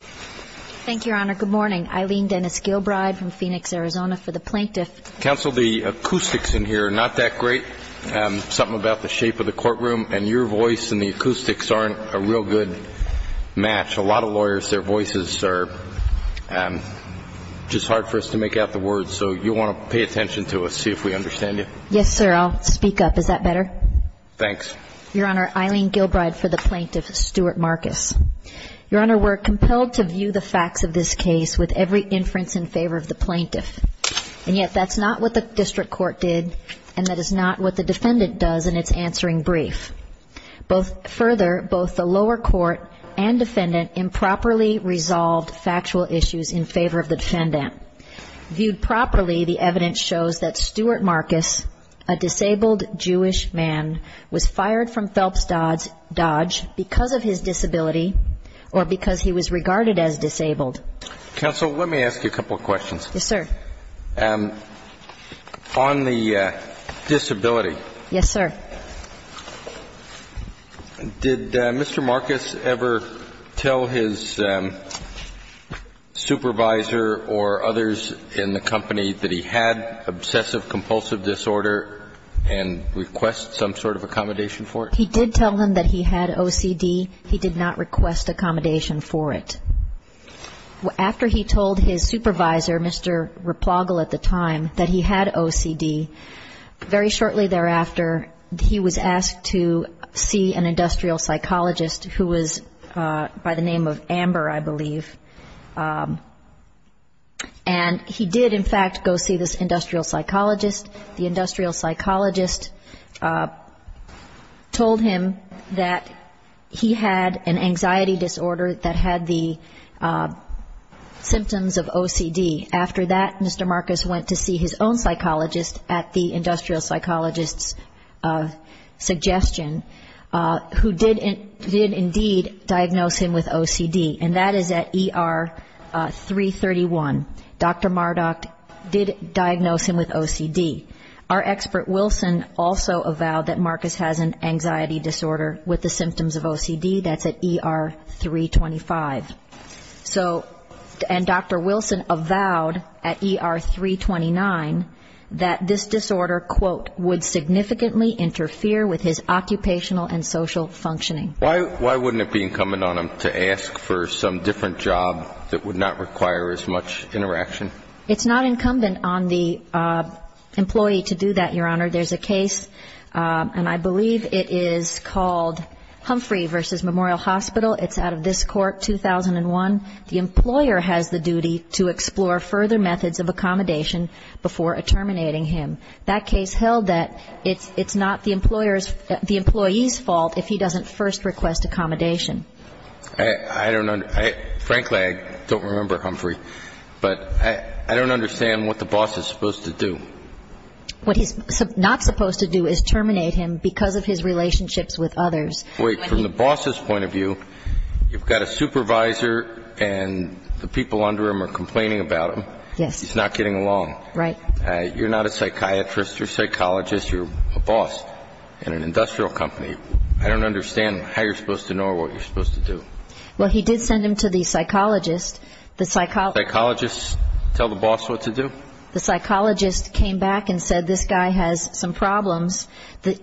Thank you, Your Honor. Good morning. Eileen Dennis Gilbride from Phoenix, Arizona for the Plaintiff. Counsel, the acoustics in here are not that great. Something about the shape of the courtroom and your voice and the acoustics aren't a real good match. A lot of lawyers, their voices are just hard for us to make out the words, so you'll want to pay attention to us, see if we understand you. Yes, sir. I'll speak up. Is that better? Thanks. Your Honor, Eileen Gilbride for the Plaintiff. Stuart Marcus. Your Honor, we're compelled to view the facts of this case with every inference in favor of the plaintiff. And yet that's not what the district court did, and that is not what the defendant does in its answering brief. Further, both the lower court and defendant improperly resolved factual issues in favor of the defendant. Viewed properly, the evidence shows that Stuart Marcus, a disabled Jewish man, was fired from Phelps Dodge because of his disability or because he was regarded as disabled. Counsel, let me ask you a couple of questions. Yes, sir. On the disability. Yes, sir. Did Mr. Marcus ever tell his supervisor or others in the company that he had obsessive compulsive disorder and request some sort of accommodation for it? He did tell them that he had OCD. He did not request accommodation for it. After he told his supervisor, Mr. Replogle at the time, that he had OCD, very shortly thereafter he was asked to see an industrial psychologist who was by the name of Amber, I believe. And he did, in fact, go see this industrial psychologist. The industrial psychologist told him that he had an anxiety disorder that had the symptoms of OCD. After that, Mr. Marcus went to see his own psychologist at the industrial psychologist's suggestion, who did indeed diagnose him with OCD, and that is at ER 331. Dr. Mardoch did diagnose him with OCD. Our expert, Wilson, also avowed that Marcus has an anxiety disorder with the symptoms of OCD. That's at ER 325. So, and Dr. Wilson avowed at ER 329 that this disorder, quote, would significantly interfere with his occupational and social functioning. Why wouldn't it be incumbent on him to ask for some different job that would not require as much interaction? It's not incumbent on the employee to do that, Your Honor. There's a case, and I believe it is called Humphrey v. Memorial Hospital. It's out of this court, 2001. The employer has the duty to explore further methods of accommodation before terminating him. That case held that it's not the employer's, the employee's fault if he doesn't first request accommodation. I don't, frankly, I don't remember, Humphrey, but I don't understand what the boss is supposed to do. What he's not supposed to do is terminate him because of his relationships with others. Wait, from the boss's point of view, you've got a supervisor and the people under him are complaining about him. Yes. He's not getting along. Right. You're not a psychiatrist. You're a psychologist. You're a boss in an industrial company. I don't understand how you're supposed to know or what you're supposed to do. Well, he did send him to the psychologist. Psychologists tell the boss what to do? The psychologist came back and said, this guy has some problems.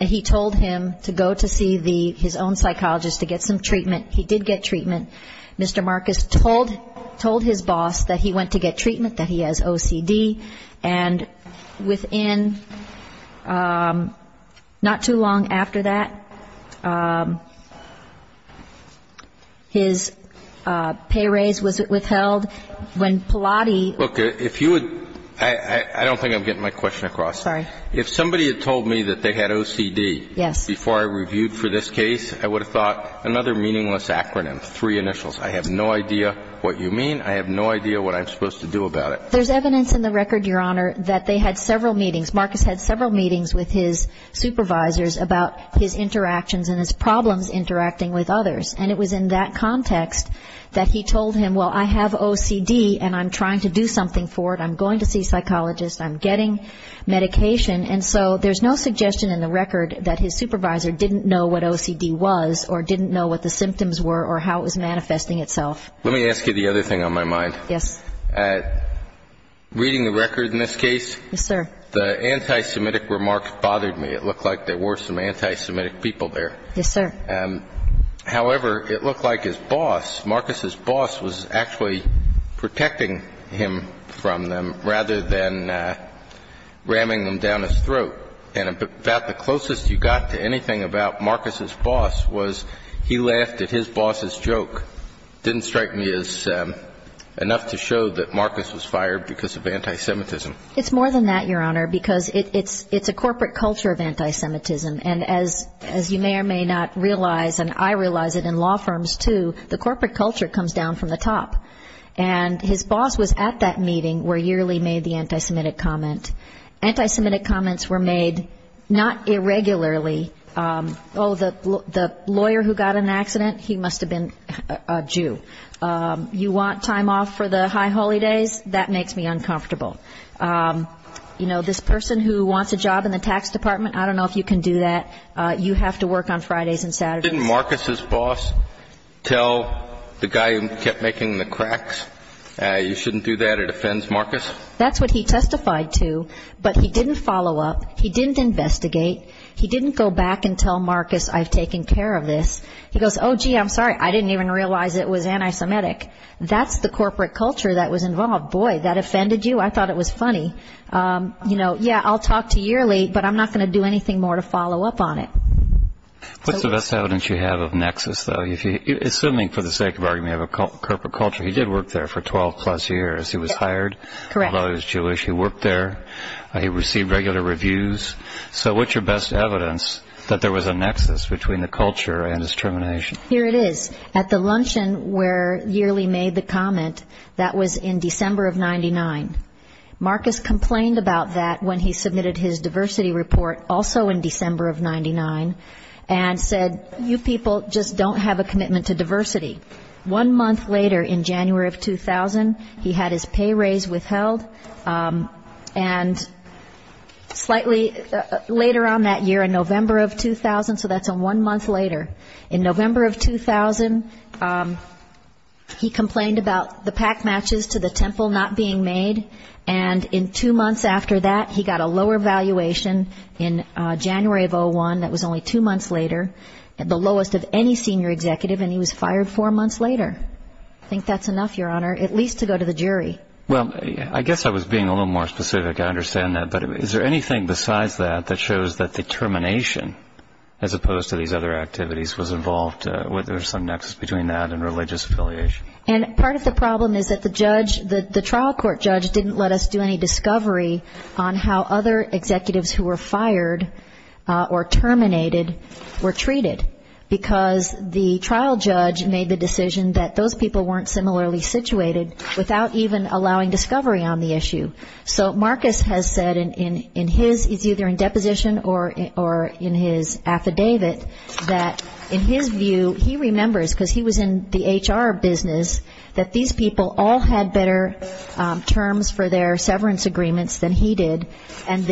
He told him to go to see his own psychologist to get some treatment. He did get treatment. Mr. Marcus told his boss that he went to get treatment, that he has OCD. And within not too long after that, his pay raise was withheld. When Pilotti ---- Look, if you would, I don't think I'm getting my question across. Sorry. If somebody had told me that they had OCD before I reviewed for this case, I would have thought another meaningless acronym, three initials. I have no idea what you mean. I have no idea what I'm supposed to do about it. There's evidence in the record, Your Honor, that they had several meetings. Marcus had several meetings with his supervisors about his interactions and his problems interacting with others. And it was in that context that he told him, well, I have OCD and I'm trying to do something for it. I'm going to see a psychologist. I'm getting medication. And so there's no suggestion in the record that his supervisor didn't know what OCD was or didn't know what the symptoms were or how it was manifesting itself. Let me ask you the other thing on my mind. Yes. Reading the record in this case, the anti-Semitic remarks bothered me. It looked like there were some anti-Semitic people there. Yes, sir. However, it looked like his boss, Marcus's boss, was actually protecting him from them rather than ramming them down his throat. And about the closest you got to anything about Marcus's boss was he laughed at his boss's joke. It didn't strike me as enough to show that Marcus was fired because of anti-Semitism. It's more than that, Your Honor, because it's a corporate culture of anti-Semitism. And as you may or may not realize, and I realize it in law firms too, the corporate culture comes down from the top. And his boss was at that meeting where Yearly made the anti-Semitic comment. Anti-Semitic comments were made not irregularly. Oh, the lawyer who got in an accident, he must have been a Jew. You want time off for the high holidays? That makes me uncomfortable. You know, this person who wants a job in the tax department, I don't know if you can do that. You have to work on Fridays and Saturdays. Didn't Marcus's boss tell the guy who kept making the cracks, you shouldn't do that, it offends Marcus? That's what he testified to. But he didn't follow up. He didn't investigate. He didn't go back and tell Marcus, I've taken care of this. He goes, oh, gee, I'm sorry, I didn't even realize it was anti-Semitic. That's the corporate culture that was involved. Boy, that offended you? I thought it was funny. You know, yeah, I'll talk to Yearly, but I'm not going to do anything more to follow up on it. What's the best evidence you have of nexus, though? Assuming, for the sake of argument, of a corporate culture, he did work there for 12-plus years. He was hired, although he was Jewish. He worked there. He received regular reviews. So what's your best evidence that there was a nexus between the culture and his termination? Here it is. At the luncheon where Yearly made the comment, that was in December of 99. Marcus complained about that when he submitted his diversity report, also in December of 99, and said, you people just don't have a commitment to diversity. One month later, in January of 2000, he had his pay raise withheld. And slightly later on that year, in November of 2000, so that's one month later, in November of 2000, he complained about the pack matches to the temple not being made. And in two months after that, he got a lower valuation in January of 2001. That was only two months later. The lowest of any senior executive, and he was fired four months later. I think that's enough, Your Honor, at least to go to the jury. Well, I guess I was being a little more specific. I understand that. But is there anything besides that that shows that the termination, as opposed to these other activities, was involved, whether there was some nexus between that and religious affiliation? And part of the problem is that the judge, the trial court judge, didn't let us do any discovery on how other executives who were fired or terminated were treated. Because the trial judge made the decision that those people weren't similarly situated without even allowing discovery on the issue. So Marcus has said in his, it's either in deposition or in his affidavit, that in his view he remembers, because he was in the HR business, that these people all had better terms for their severance agreements than he did. And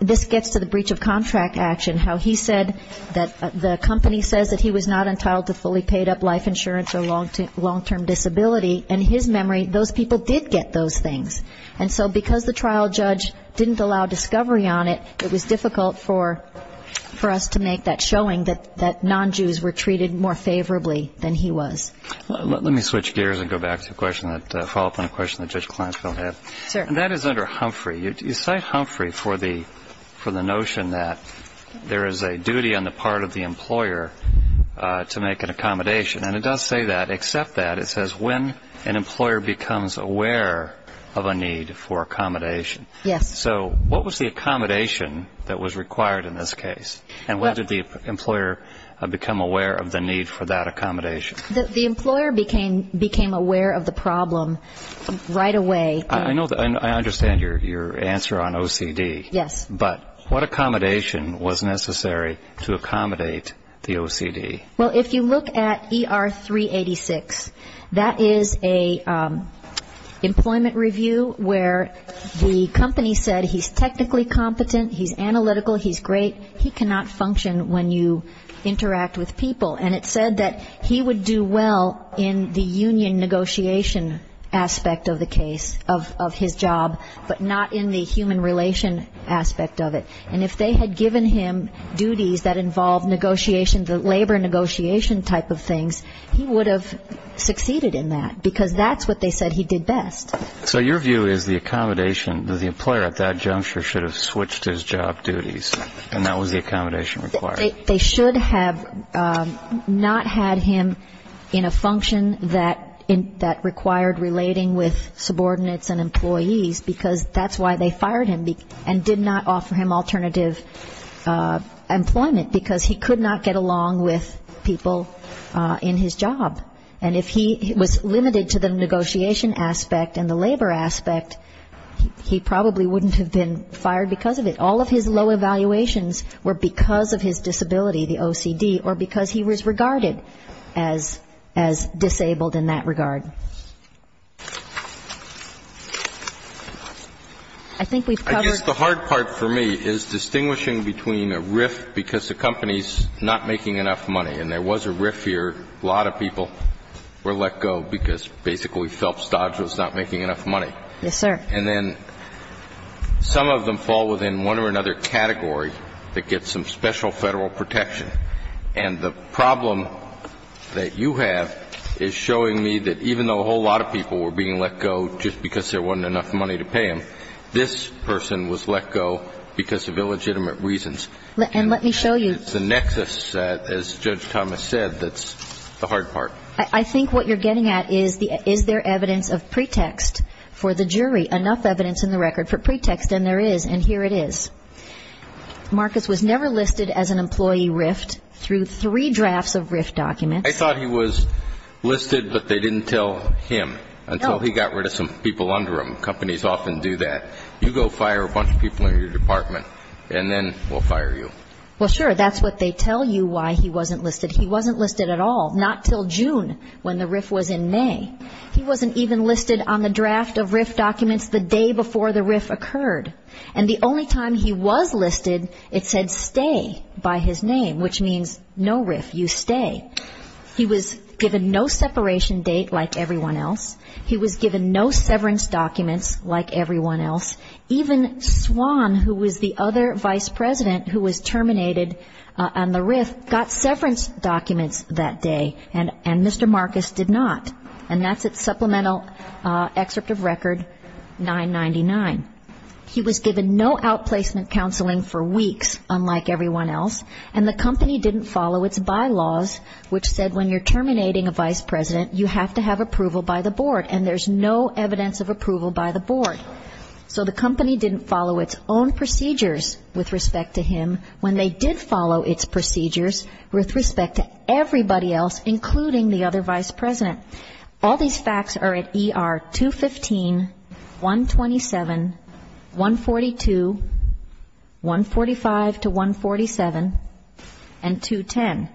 this gets to the breach of contract action, how he said that the company says that he was not entitled to fully paid up life insurance or long-term disability. In his memory, those people did get those things. And so because the trial judge didn't allow discovery on it, it was difficult for us to make that showing that non-Jews were treated more favorably than he was. Let me switch gears and go back to a follow-up on a question that Judge Kleinfeld had. And that is under Humphrey. You cite Humphrey for the notion that there is a duty on the part of the employer to make an accommodation. And it does say that. When an employer becomes aware of a need for accommodation. Yes. So what was the accommodation that was required in this case? And when did the employer become aware of the need for that accommodation? The employer became aware of the problem right away. I understand your answer on OCD. Yes. But what accommodation was necessary to accommodate the OCD? Well, if you look at ER 386, that is a employment review where the company said he's technically competent, he's analytical, he's great, he cannot function when you interact with people. And it said that he would do well in the union negotiation aspect of the case, of his job, but not in the human relation aspect of it. And if they had given him duties that involved negotiation, the labor negotiation type of things, he would have succeeded in that because that's what they said he did best. So your view is the accommodation to the employer at that juncture should have switched his job duties and that was the accommodation required? They should have not had him in a function that required relating with subordinates and employees because that's why they fired him and did not offer him alternative employment, because he could not get along with people in his job. And if he was limited to the negotiation aspect and the labor aspect, he probably wouldn't have been fired because of it. All of his low evaluations were because of his disability, the OCD, or because he was regarded as disabled in that regard. I think we've covered. I guess the hard part for me is distinguishing between a RIF because the company's not making enough money, and there was a RIF here, a lot of people were let go because basically Phelps Dodge was not making enough money. Yes, sir. And then some of them fall within one or another category that gets some special Federal protection. And the problem that you have is showing me that even though a whole lot of people were being let go just because there wasn't enough money to pay them, this person was let go because of illegitimate reasons. And let me show you. It's the nexus, as Judge Thomas said, that's the hard part. I think what you're getting at is is there evidence of pretext for the jury, enough evidence in the record for pretext, and there is, and here it is. Marcus was never listed as an employee RIF through three drafts of RIF documents. I thought he was listed, but they didn't tell him until he got rid of some people under him. Companies often do that. You go fire a bunch of people in your department, and then we'll fire you. Well, sure, that's what they tell you why he wasn't listed. He wasn't listed at all, not until June when the RIF was in May. He wasn't even listed on the draft of RIF documents the day before the RIF occurred. And the only time he was listed, it said stay by his name, which means no RIF, you stay. He was given no separation date like everyone else. He was given no severance documents like everyone else. Even Swan, who was the other vice president who was terminated on the RIF, got severance documents that day, and Mr. Marcus did not. And that's at supplemental excerpt of record 999. He was given no outplacement counseling for weeks, unlike everyone else, and the company didn't follow its bylaws, which said when you're terminating a vice president, you have to have approval by the board, and there's no evidence of approval by the board. So the company didn't follow its own procedures with respect to him when they did follow its procedures with respect to everybody else, including the other vice president. All these facts are at ER 215, 127, 142, 145 to 147, and 210.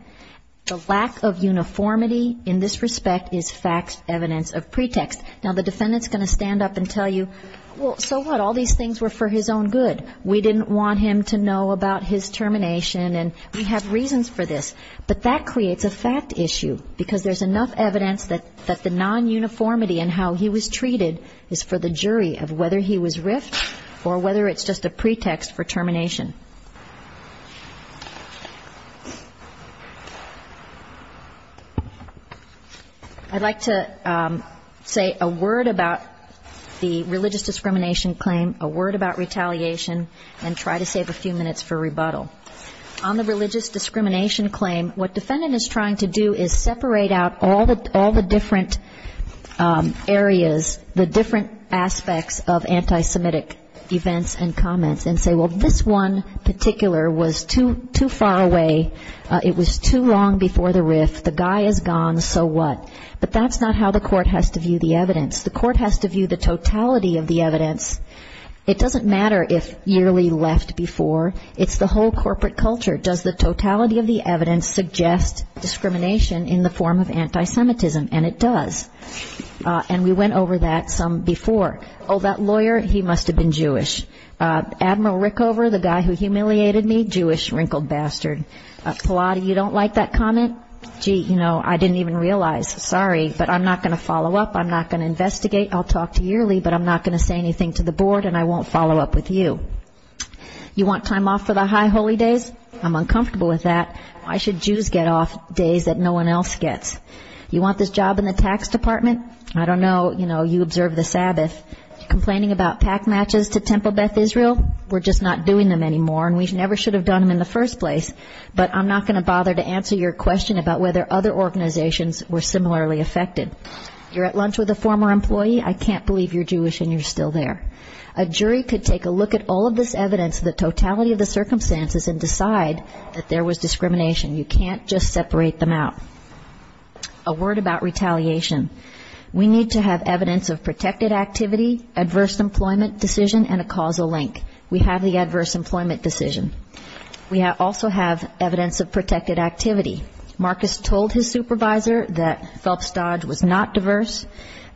The lack of uniformity in this respect is facts, evidence of pretext. Now, the defendant's going to stand up and tell you, well, so what? All these things were for his own good. We didn't want him to know about his termination, and we have reasons for this. But that creates a fact issue because there's enough evidence that the non-uniformity in how he was treated is for the jury of whether he was RIF'd or whether it's just a pretext for termination. I'd like to say a word about the religious discrimination claim, a word about retaliation, and try to save a few minutes for rebuttal. On the religious discrimination claim, what defendant is trying to do is separate out all the different areas, the different aspects of anti-Semitic events and comments, and say, well, this one, was too far away, it was too long before the RIF, the guy is gone, so what? But that's not how the court has to view the evidence. The court has to view the totality of the evidence. It doesn't matter if yearly left before. It's the whole corporate culture. Does the totality of the evidence suggest discrimination in the form of anti-Semitism? And it does. And we went over that some before. Oh, that lawyer, he must have been Jewish. Admiral Rickover, the guy who humiliated me, Jewish wrinkled bastard. Pilate, you don't like that comment? Gee, you know, I didn't even realize. Sorry, but I'm not going to follow up. I'm not going to investigate. I'll talk to yearly, but I'm not going to say anything to the board, and I won't follow up with you. You want time off for the high holy days? I'm uncomfortable with that. Why should Jews get off days that no one else gets? You want this job in the tax department? I don't know. You know, you observe the Sabbath. Complaining about pack matches to Temple Beth Israel? We're just not doing them anymore, and we never should have done them in the first place. But I'm not going to bother to answer your question about whether other organizations were similarly affected. You're at lunch with a former employee? I can't believe you're Jewish and you're still there. A jury could take a look at all of this evidence, the totality of the circumstances, and decide that there was discrimination. You can't just separate them out. A word about retaliation. We need to have evidence of protected activity, adverse employment decision, and a causal link. We have the adverse employment decision. We also have evidence of protected activity. Marcus told his supervisor that Phelps Dodge was not diverse,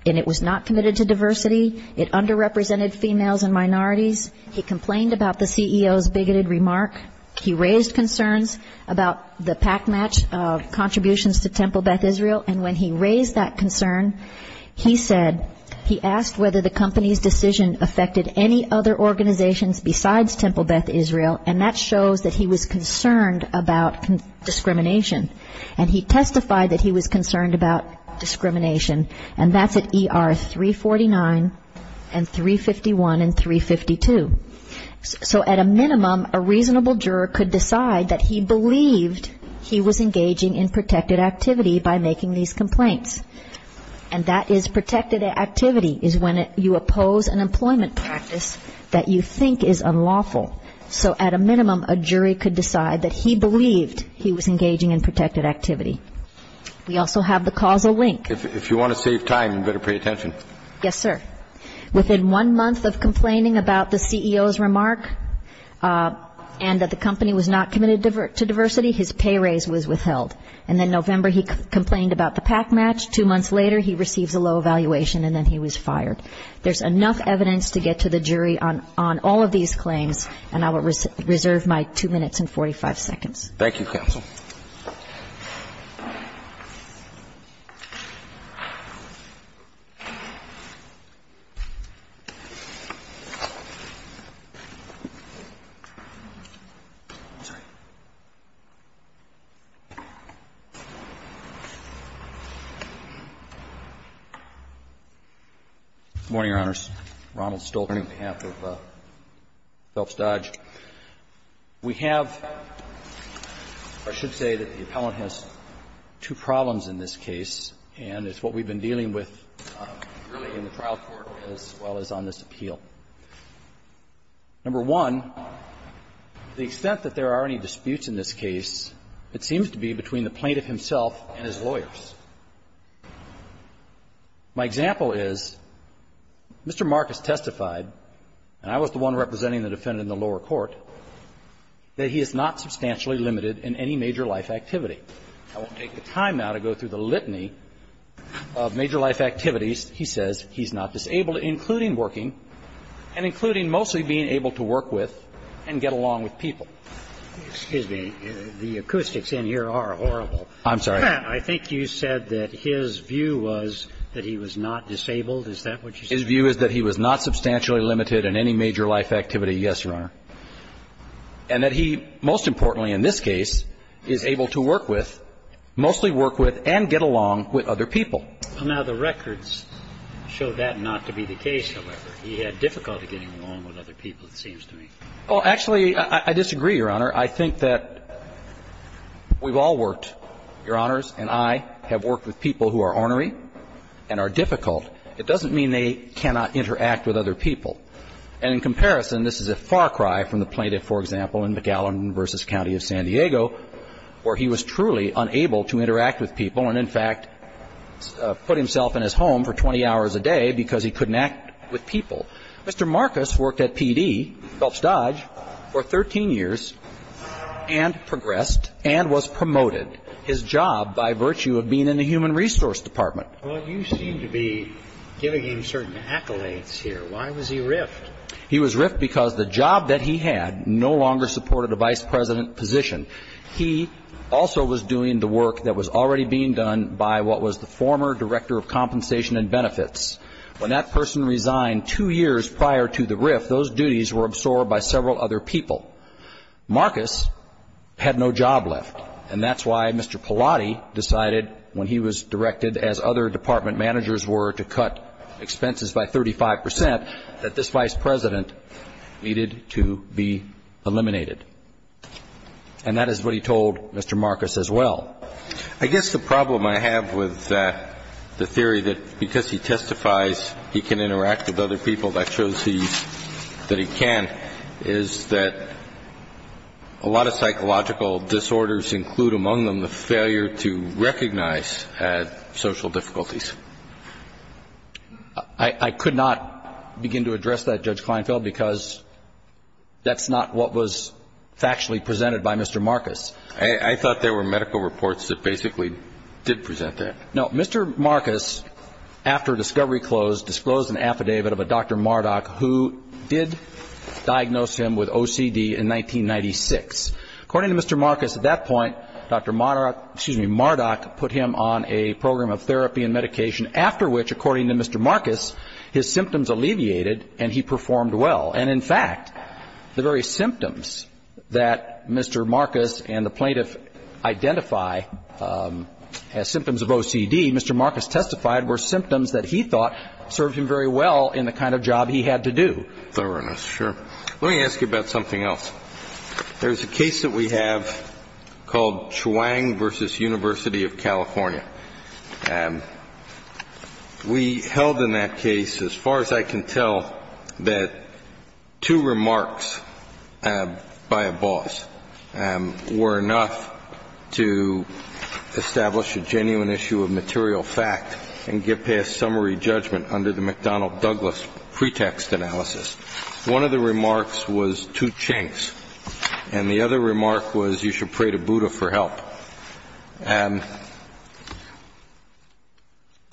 and it was not committed to diversity. It underrepresented females and minorities. He complained about the CEO's bigoted remark. He raised concerns about the pack match contributions to Temple Beth Israel, and when he raised that concern, he said he asked whether the company's decision affected any other organizations besides Temple Beth Israel, and that shows that he was concerned about discrimination. And he testified that he was concerned about discrimination, and that's at ER 349 and 351 and 352. So at a minimum, a reasonable juror could decide that he believed he was engaging in protected activity by making these complaints. And that is protected activity is when you oppose an employment practice that you think is unlawful. So at a minimum, a jury could decide that he believed he was engaging in protected activity. We also have the causal link. If you want to save time, you better pay attention. Yes, sir. Within one month of complaining about the CEO's remark and that the company was not committed to diversity, his pay raise was withheld. And then November, he complained about the pack match. Two months later, he receives a low evaluation, and then he was fired. There's enough evidence to get to the jury on all of these claims, and I will reserve my two minutes and 45 seconds. Thank you, counsel. Good morning, Your Honors. Ronald Stolten on behalf of Phelps Dodge. We have, or I should say that the appellant has two problems in this case, and it's what we've been dealing with really in the trial court as well as on this appeal. Number one, the extent that there are any disputes in this case, it seems to be between the plaintiff himself and his lawyers. My example is, Mr. Marcus testified, and I was the one representing the defendant in the lower court, that he is not substantially limited in any major life activity. I won't take the time now to go through the litany of major life activities. He says he's not disabled, including working and including mostly being able to work with and get along with people. Excuse me. The acoustics in here are horrible. I'm sorry. I think you said that his view was that he was not disabled. Is that what you said? His view is that he was not substantially limited in any major life activity. Yes, Your Honor. And that he, most importantly in this case, is able to work with, mostly work with and get along with other people. Now, the records show that not to be the case, however. He had difficulty getting along with other people, it seems to me. Well, actually, I disagree, Your Honor. I think that we've all worked, Your Honors, and I have worked with people who are ornery and are difficult. It doesn't mean they cannot interact with other people. And in comparison, this is a far cry from the plaintiff, for example, in McAllen v. County of San Diego, where he was truly unable to interact with people and, in fact, put himself in his home for 20 hours a day because he couldn't act with people. Mr. Marcus worked at PD, Phelps Dodge, for 13 years and progressed and was promoted his job by virtue of being in the human resource department. Well, you seem to be giving him certain accolades here. Why was he riffed? He was riffed because the job that he had no longer supported a vice president position. He also was doing the work that was already being done by what was the former director of compensation and benefits. When that person resigned two years prior to the riff, those duties were absorbed by several other people. Marcus had no job left, and that's why Mr. Pallotti decided, when he was directed, as other department managers were, to cut expenses by 35 percent, that this vice president needed to be eliminated. And that is what he told Mr. Marcus as well. I guess the problem I have with the theory that because he testifies he can interact with other people, that shows that he can, is that a lot of psychological disorders include, among them, the I could not begin to address that, Judge Kleinfeld, because that's not what was factually presented by Mr. Marcus. I thought there were medical reports that basically did present that. No. Mr. Marcus, after discovery closed, disclosed an affidavit of a Dr. Marduk who did diagnose him with OCD in 1996. According to Mr. Marcus, at that point, Dr. Marduk put him on a program of therapy and medication, after which, according to Mr. Marcus, his symptoms alleviated and he performed well. And, in fact, the very symptoms that Mr. Marcus and the plaintiff identify as symptoms of OCD, Mr. Marcus testified were symptoms that he thought served him very well in the kind of job he had to do. Thoroughness. Sure. Let me ask you about something else. There's a case that we have called Chuang v. University of California. We held in that case, as far as I can tell, that two remarks by a boss were enough to establish a genuine issue of material fact and get past summary judgment under the McDonnell-Douglas pretext analysis. One of the remarks was, two chunks. And the other remark was, you should pray to Buddha for help.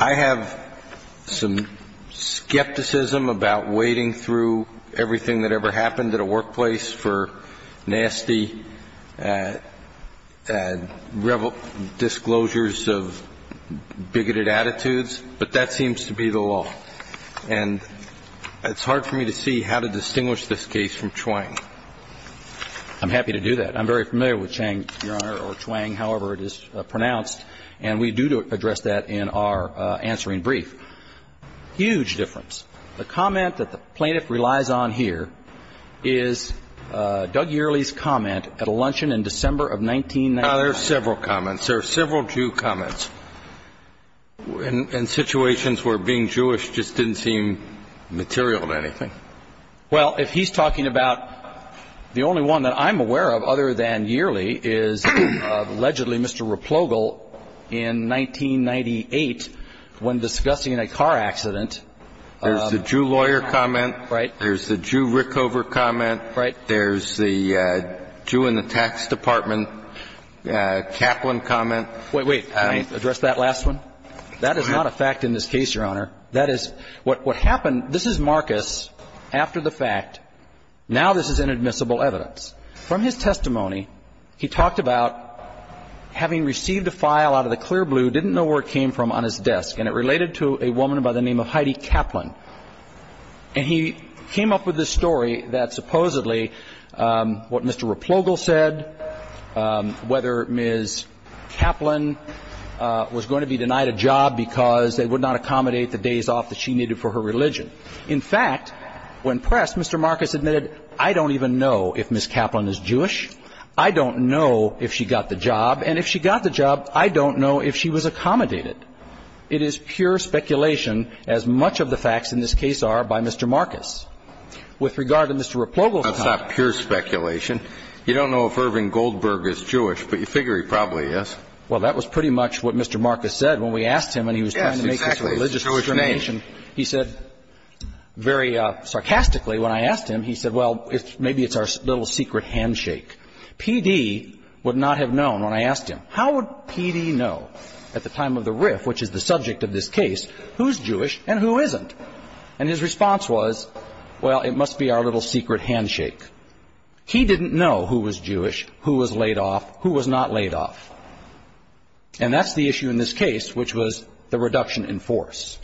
I have some skepticism about wading through everything that ever happened at a workplace for nasty disclosures of bigoted attitudes, but that seems to be the law. And it's hard for me to see how to distinguish this case from Chuang. I'm happy to do that. I'm very familiar with Chang, Your Honor, or Chuang, however it is pronounced. And we do address that in our answering brief. Huge difference. The comment that the plaintiff relies on here is Doug Yearley's comment at a luncheon in December of 1999. There are several comments. There are several Jew comments. And situations where being Jewish just didn't seem material to anything. Well, if he's talking about the only one that I'm aware of, other than Yearley, is allegedly Mr. Replogle in 1998 when discussing a car accident. There's the Jew lawyer comment. Right. There's the Jew Rickover comment. Right. There's the Jew in the tax department Kaplan comment. Wait, wait. Can I address that last one? That is not a fact in this case, Your Honor. That is what happened. This is Marcus after the fact. Now this is inadmissible evidence. From his testimony, he talked about having received a file out of the clear blue, didn't know where it came from on his desk, and it related to a woman by the name of Heidi Kaplan. And he came up with this story that supposedly what Mr. Replogle said, whether Ms. Kaplan was going to be denied a job because they would not accommodate the days off that she needed for her religion. In fact, when pressed, Mr. Marcus admitted, I don't even know if Ms. Kaplan is Jewish. I don't know if she got the job. And if she got the job, I don't know if she was accommodated. It is pure speculation, as much of the facts in this case are by Mr. Marcus. With regard to Mr. Replogle's comment. That's not pure speculation. You don't know if Irving Goldberg is Jewish, but you figure he probably is. Well, that was pretty much what Mr. Marcus said when we asked him when he was trying to make this religious determination. Yes, exactly. It's a Jewish name. He said very sarcastically when I asked him, he said, well, maybe it's our little secret handshake. P.D. would not have known when I asked him. How would P.D. know at the time of the riff, which is the subject of this case, who's Jewish and who isn't? And his response was, well, it must be our little secret handshake. He didn't know who was Jewish, who was laid off, who was not laid off. And that's the issue in this case, which was the reduction in force.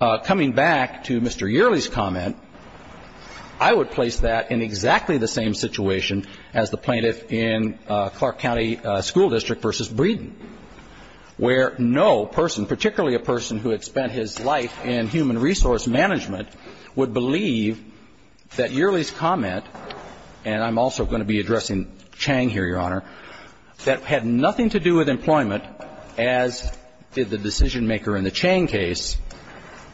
Coming back to Mr. Yearley's comment, I would place that in exactly the same situation as the plaintiff in Clark County School District. In Clark County School District versus Breeden, where no person, particularly a person who had spent his life in human resource management, would believe that Yearley's comment, and I'm also going to be addressing Chang here, Your Honor, that had nothing to do with employment, as did the decision-maker in the Chang case,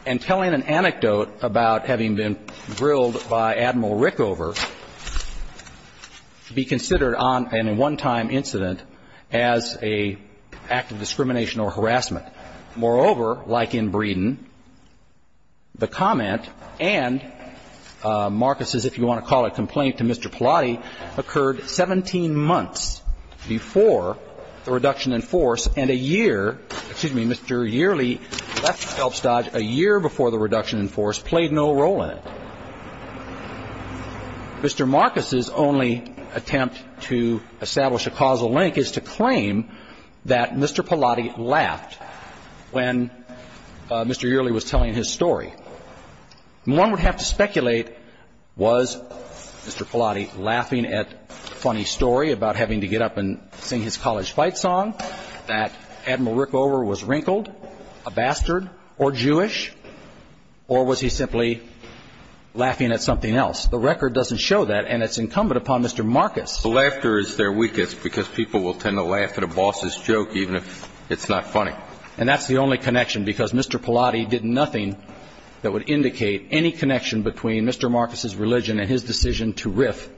and telling an anecdote about having been grilled by Admiral Rickover to be considered on a one-time incident as an act of discrimination or harassment. Moreover, like in Breeden, the comment and Marcus's, if you want to call it, complaint to Mr. Stodge a year before the reduction in force played no role in it. Mr. Marcus's only attempt to establish a causal link is to claim that Mr. Pallotti laughed when Mr. Yearley was telling his story. One would have to speculate, was Mr. Pallotti laughing at a funny story about having to get up and sing his college fight song, that Admiral Rickover was wrinkled, a bastard, or Jewish, or was he simply laughing at something else? The record doesn't show that, and it's incumbent upon Mr. Marcus. The laughter is their weakest, because people will tend to laugh at a boss's joke, even if it's not funny. And that's the only connection, because Mr. Pallotti did nothing that would indicate any connection between Mr. Marcus's religion and his decision to riff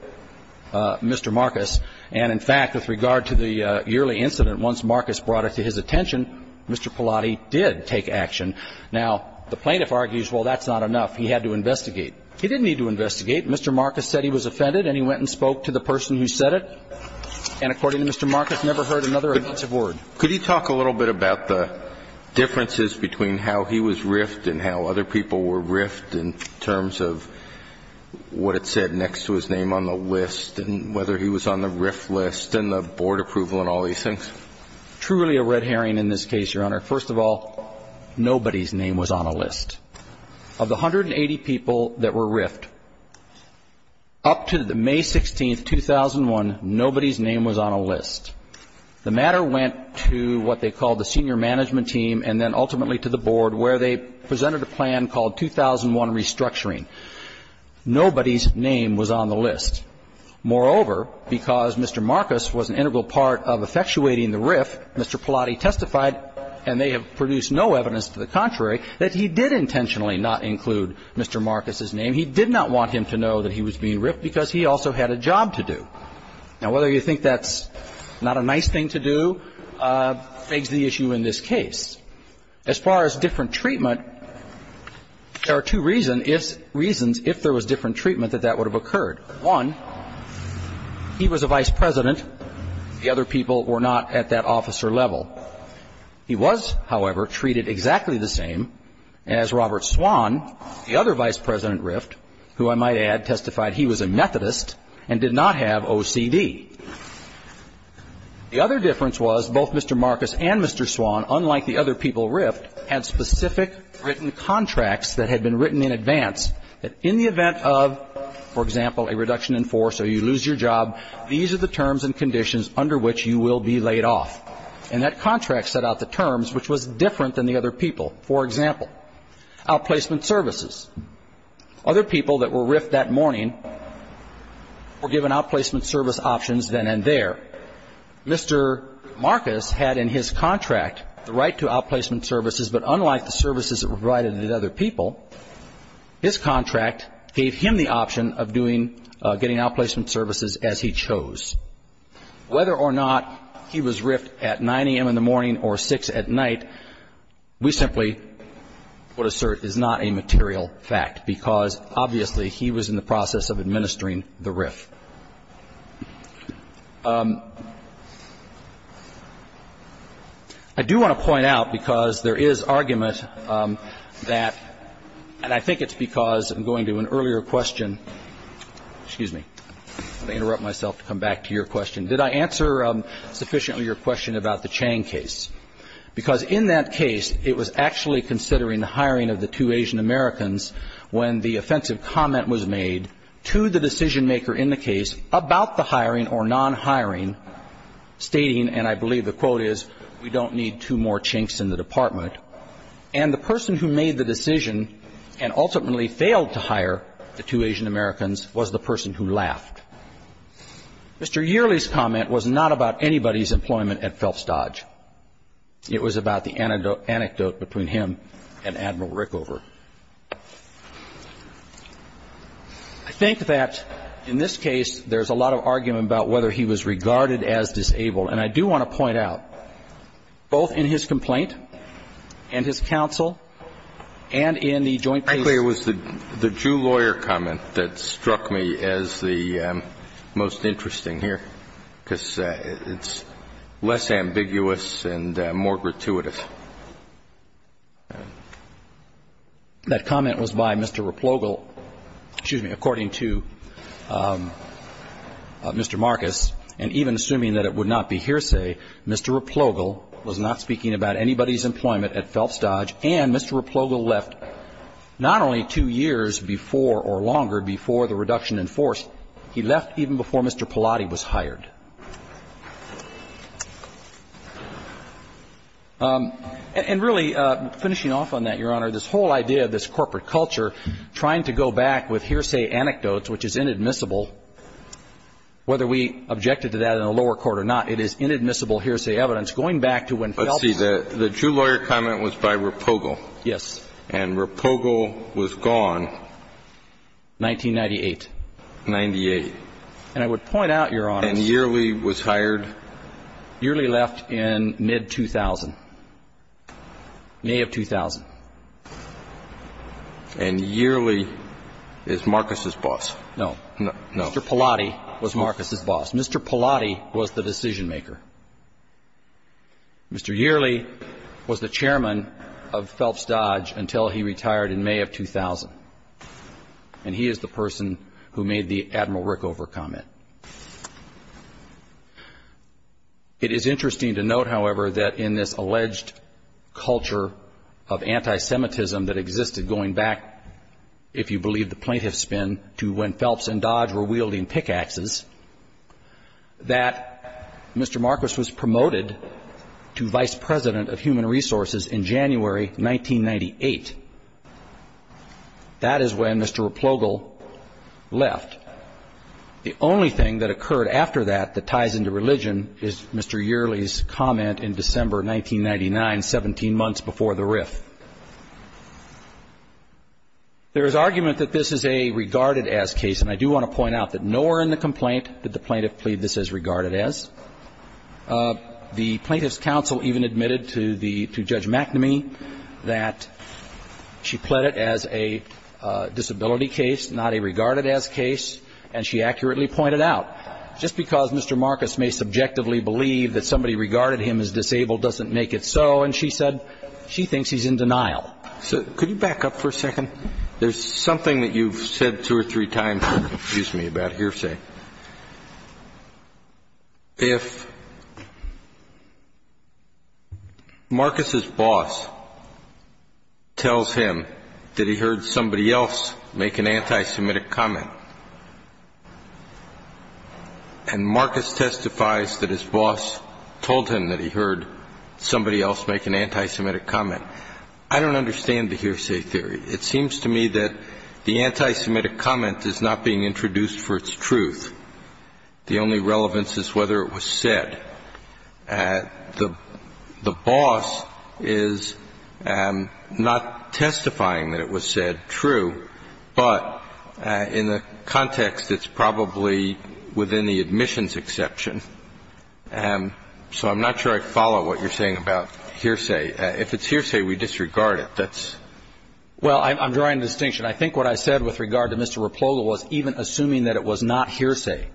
Mr. Marcus. And, in fact, with regard to the Yearley incident, once Marcus brought it to his attention, Mr. Pallotti did take action. Now, the plaintiff argues, well, that's not enough. He had to investigate. He didn't need to investigate. Mr. Marcus said he was offended, and he went and spoke to the person who said it. And according to Mr. Marcus, never heard another offensive word. Could you talk a little bit about the differences between how he was riffed and how other people were riffed in terms of what it said next to his name on the list and whether he was on the riff list and the board approval and all these things? Truly a red herring in this case, Your Honor. First of all, nobody's name was on a list. Of the 180 people that were riffed, up to May 16, 2001, nobody's name was on a list. The matter went to what they called the senior management team and then ultimately to the board where they presented a plan called 2001 Restructuring. Nobody's name was on the list. Moreover, because Mr. Marcus was an integral part of effectuating the riff, Mr. Pallotti testified, and they have produced no evidence to the contrary, that he did intentionally not include Mr. Marcus's name. He did not want him to know that he was being riffed because he also had a job to do. Now, whether you think that's not a nice thing to do begs the issue in this case. As far as different treatment, there are two reasons if there was different treatment that that would have occurred. One, he was a vice president. The other people were not at that officer level. He was, however, treated exactly the same as Robert Swan, the other vice president riffed, who I might add testified he was a Methodist and did not have OCD. The other difference was both Mr. Marcus and Mr. Swan, unlike the other people riffed, had specific written contracts that had been written in advance that in the event of, for example, a reduction in force or you lose your job, these are the terms and conditions under which you will be laid off. And that contract set out the terms, which was different than the other people. For example, outplacement services. Other people that were riffed that morning were given outplacement service options then and there. Mr. Marcus had in his contract the right to outplacement services, but unlike the services that were provided to the other people, his contract gave him the option of doing, getting outplacement services as he chose. Whether or not he was riffed at 9 a.m. in the morning or 6 at night, we simply would because obviously he was in the process of administering the riff. I do want to point out, because there is argument that, and I think it's because I'm going to an earlier question. Excuse me. Let me interrupt myself to come back to your question. Did I answer sufficiently your question about the Chang case? Yes. Because in that case, it was actually considering the hiring of the two Asian-Americans when the offensive comment was made to the decision-maker in the case about the hiring or non-hiring stating, and I believe the quote is, we don't need two more chinks in the department. And the person who made the decision and ultimately failed to hire the two Asian-Americans was the person who laughed. Mr. Yearley's comment was not about anybody's employment at Phelps Dodge. It was about the anecdote between him and Admiral Rickover. I think that in this case, there's a lot of argument about whether he was regarded as disabled, and I do want to point out, both in his complaint and his counsel and in the joint case. It was the Jew lawyer comment that struck me as the most interesting here, because it's less ambiguous and more gratuitous. That comment was by Mr. Replogle. Excuse me. According to Mr. Marcus, and even assuming that it would not be hearsay, Mr. Replogle was not speaking about anybody's employment at Phelps Dodge, and Mr. Replogle left not only two years before or longer before the reduction in force, he left even before Mr. Pallotti was hired. And really, finishing off on that, Your Honor, this whole idea of this corporate culture, trying to go back with hearsay anecdotes, which is inadmissible, whether we objected to that in the lower court or not, it is inadmissible hearsay evidence. Going back to when Phelps ---- But, see, the Jew lawyer comment was by Replogle. Yes. And Replogle was gone. 1998. 98. And I would point out, Your Honor ---- And Yearley was hired. Yearley left in mid-2000, May of 2000. And Yearley is Marcus's boss. No. No. Mr. Pallotti was Marcus's boss. Mr. Pallotti was the decision-maker. Mr. Yearley was the chairman of Phelps Dodge until he retired in May of 2000. And he is the person who made the Admiral Rickover comment. It is interesting to note, however, that in this alleged culture of anti-Semitism that existed going back, if you believe the plaintiff's spin, to when Phelps and Dodge were wielding pickaxes, that Mr. Marcus was promoted to Vice President of Human Resources in January 1998. That is when Mr. Replogle left. The only thing that occurred after that that ties into religion is Mr. Yearley's comment in December 1999, 17 months before the riff. There is argument that this is a regarded-as case, and I do want to point out that nowhere in the complaint did the plaintiff plead this as regarded-as. The Plaintiff's Counsel even admitted to the ---- to Judge McNamee that she pled it as a disability case, not a regarded-as case, and she accurately pointed out, just because Mr. Marcus may subjectively believe that somebody regarded him as disabled doesn't make it so, and she said she thinks he's in denial. So could you back up for a second? There's something that you've said two or three times that confused me about hearsay. If Marcus's boss tells him that he heard somebody else make an anti-Semitic comment, I don't understand the hearsay theory. It seems to me that the anti-Semitic comment is not being introduced for its truth. The only relevance is whether it was said. The boss is not testifying that it was said true, but in the context of the hearsay truth. In that context, it's probably within the admissions exception. So I'm not sure I follow what you're saying about hearsay. If it's hearsay, we disregard it. That's ---- Well, I'm drawing a distinction. I think what I said with regard to Mr. Rapolo was even assuming that it was not hearsay,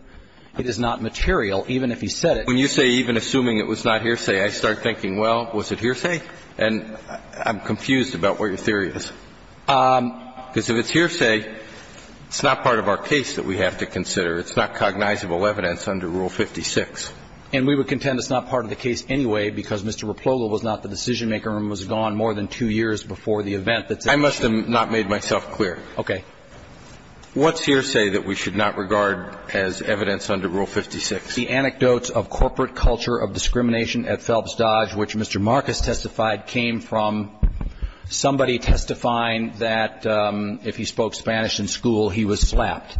it is not material, even if he said it. When you say even assuming it was not hearsay, I start thinking, well, was it hearsay? And I'm confused about what your theory is. Because if it's hearsay, it's not part of our case that we have to consider. It's not cognizable evidence under Rule 56. And we would contend it's not part of the case anyway because Mr. Rapolo was not the decision-maker and was gone more than two years before the event. I must have not made myself clear. Okay. What's hearsay that we should not regard as evidence under Rule 56? The anecdotes of corporate culture of discrimination at Phelps Dodge, which Mr. Marcus testified, came from somebody testifying that if he spoke Spanish in school, he was slapped.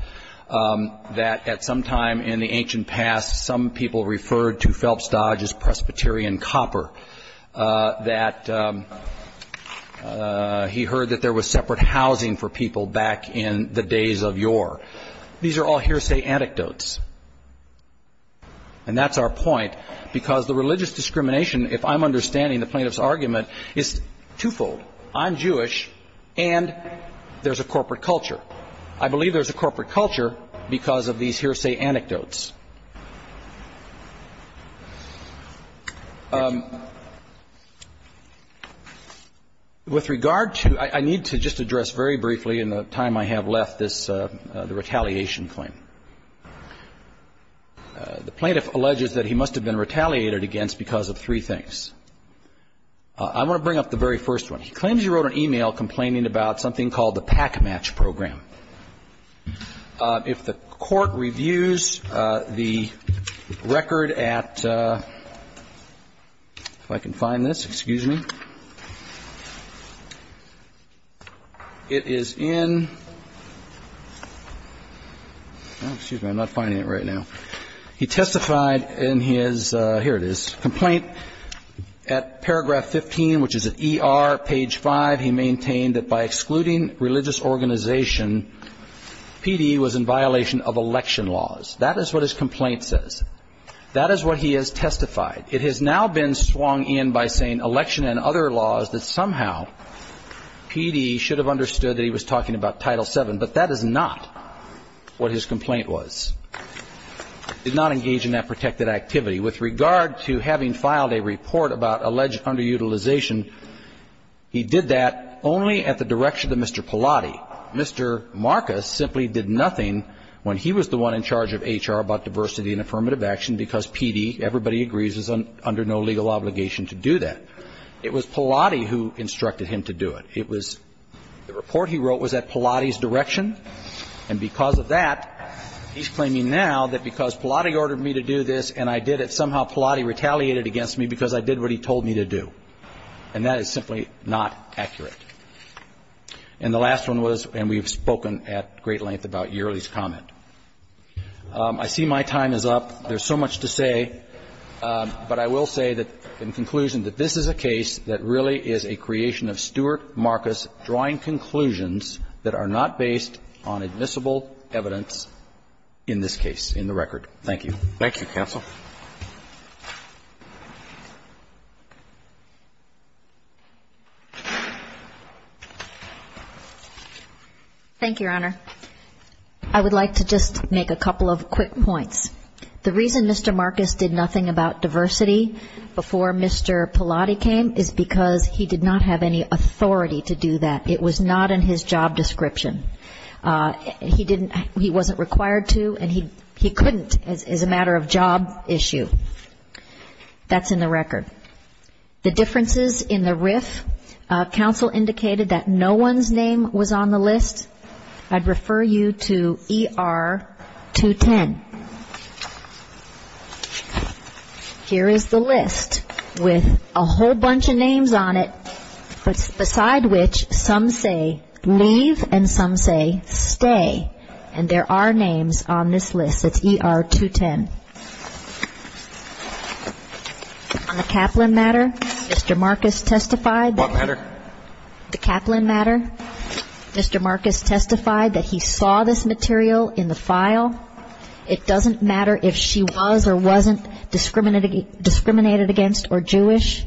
That at some time in the ancient past, some people referred to Phelps Dodge as Presbyterian copper. That he heard that there was separate housing for people back in the days of yore. These are all hearsay anecdotes. And that's our point. Because the religious discrimination, if I'm understanding the plaintiff's argument, is twofold. I'm Jewish and there's a corporate culture. I believe there's a corporate culture because of these hearsay anecdotes. With regard to ‑‑ I need to just address very briefly in the time I have left this, the retaliation claim. The plaintiff alleges that he must have been retaliated against because of three things. I want to bring up the very first one. He claims he wrote an e‑mail complaining about something called the Pack Match Program. If the court reviews the record at ‑‑ if I can find this. Excuse me. It is in ‑‑ excuse me, I'm not finding it right now. He testified in his ‑‑ here it is. Complaint at paragraph 15, which is at ER, page 5. He maintained that by excluding religious organization, P.D. was in violation of election laws. That is what his complaint says. That is what he has testified. It has now been swung in by saying election and other laws that somehow P.D. should have understood that he was talking about Title VII. But that is not what his complaint was. Did not engage in that protected activity. With regard to having filed a report about alleged underutilization, he did that only at the direction of Mr. Pallotti. Mr. Marcus simply did nothing when he was the one in charge of H.R. about diversity and affirmative action because P.D., everybody agrees, is under no legal obligation to do that. It was Pallotti who instructed him to do it. It was ‑‑ the report he wrote was at Pallotti's direction. And because of that, he's claiming now that because Pallotti ordered me to do this and I did it, somehow Pallotti retaliated against me because I did what he told me to do. And that is simply not accurate. And the last one was, and we've spoken at great length about Yearley's comment. I see my time is up. There's so much to say. But I will say that, in conclusion, that this is a case that really is a creation of Stewart Marcus drawing conclusions that are not based on admissible evidence in this case, in the record. Thank you. Thank you, counsel. Thank you, Your Honor. I would like to just make a couple of quick points. The reason Mr. Marcus did nothing about diversity before Mr. Pallotti came is because he did not have any authority to do that. It was not in his job description. He didn't ‑‑ he wasn't required to, and he couldn't as a matter of job issue. That's in the record. The differences in the RIF, counsel indicated that no one's name was on the list. I'd refer you to ER 210. Here is the list with a whole bunch of names on it, beside which some say leave and some say stay. And there are names on this list. It's ER 210. On the Kaplan matter, Mr. Marcus testified. What matter? The Kaplan matter. Mr. Marcus testified that he saw this material in the file. It doesn't matter if she was or wasn't discriminated against or Jewish.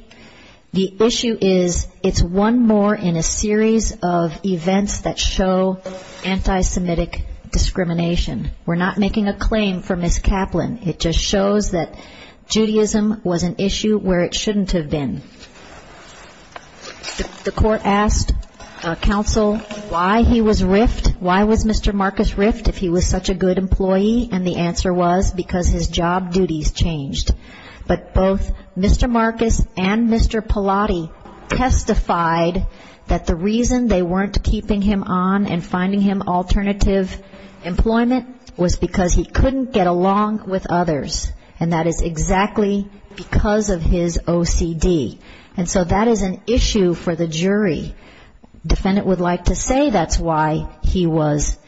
The issue is it's one more in a series of events that show anti‑Semitic discrimination. We're not making a claim for Ms. Kaplan. It just shows that Judaism was an issue where it shouldn't have been. The court asked counsel why he was RIF'd, why was Mr. Marcus RIF'd, if he was such a good employee, and the answer was because his job duties changed. But both Mr. Marcus and Mr. Pallotti testified that the reason they weren't keeping him on and finding him alternative employment was because he couldn't get along with others, and that is exactly because of his OCD. And so that is an issue for the jury. Defendant would like to say that's why he was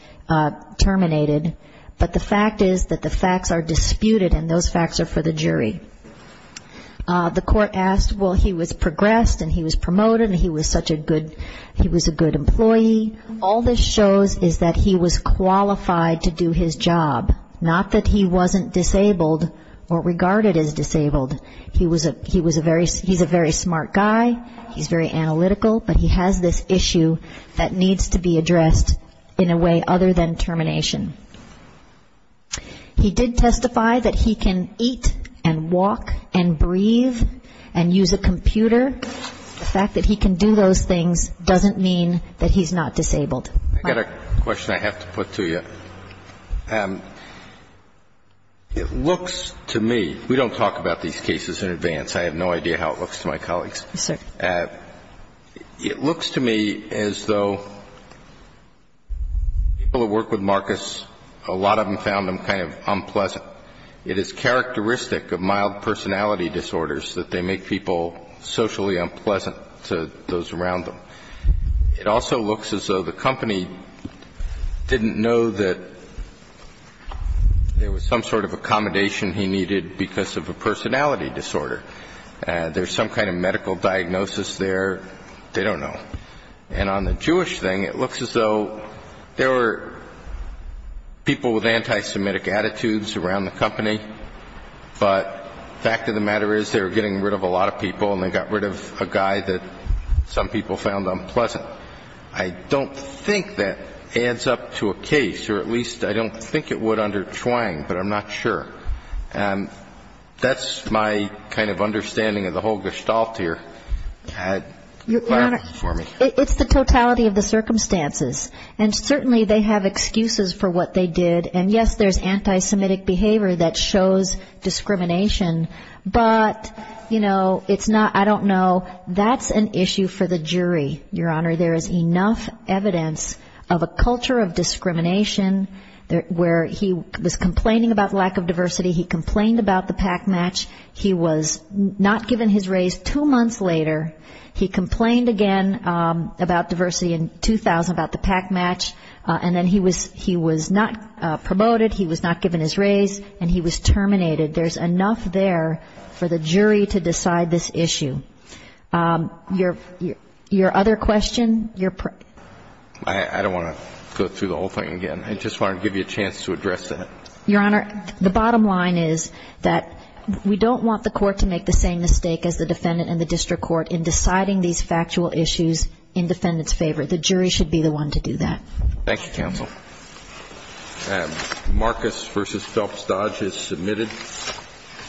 terminated, but the fact is that the facts are disputed and those facts are for the jury. The court asked, well, he was progressed and he was promoted and he was such a good ‑‑ he was a good employee. All this shows is that he was qualified to do his job, not that he wasn't disabled or regarded as disabled. He was a very ‑‑ he's a very smart guy, he's very analytical, but he has this issue that needs to be addressed in a way other than termination. He did testify that he can eat and walk and breathe and use a computer. The fact that he can do those things doesn't mean that he's not disabled. I've got a question I have to put to you. It looks to me ‑‑ we don't talk about these cases in advance. I have no idea how it looks to my colleagues. Yes, sir. It looks to me as though people who work with Marcus, a lot of them found him kind of unpleasant. It is characteristic of mild personality disorders that they make people socially unpleasant to those around them. It also looks as though the company didn't know that there was some sort of accommodation he needed because of a personality disorder. There's some kind of medical diagnosis there. They don't know. And on the Jewish thing, it looks as though there were people with anti‑Semitic attitudes around the company, but the fact of the matter is they were getting rid of a lot of people and they got rid of a guy that some people found unpleasant. I don't think that adds up to a case, or at least I don't think it would under Chuang, but I'm not sure. That's my kind of understanding of the whole gestalt here. It's the totality of the circumstances. And certainly they have excuses for what they did. And, yes, there's anti‑Semitic behavior that shows discrimination, but, you know, it's not ‑‑ I don't know. That's an issue for the jury, Your Honor. There is enough evidence of a culture of discrimination where he was complaining about lack of diversity, he complained about the pack match, he was not given his raise two months later, he complained again about diversity in 2000, about the pack match, and then he was not promoted, he was not given his raise, and he was terminated. There's enough there for the jury to decide this issue. Your other question? I don't want to go through the whole thing again. I just wanted to give you a chance to address that. Your Honor, the bottom line is that we don't want the court to make the same mistake as the defendant and the district court in deciding these factual issues in defendant's favor. Thank you, counsel. And Marcus v. Phelps Dodge is submitted.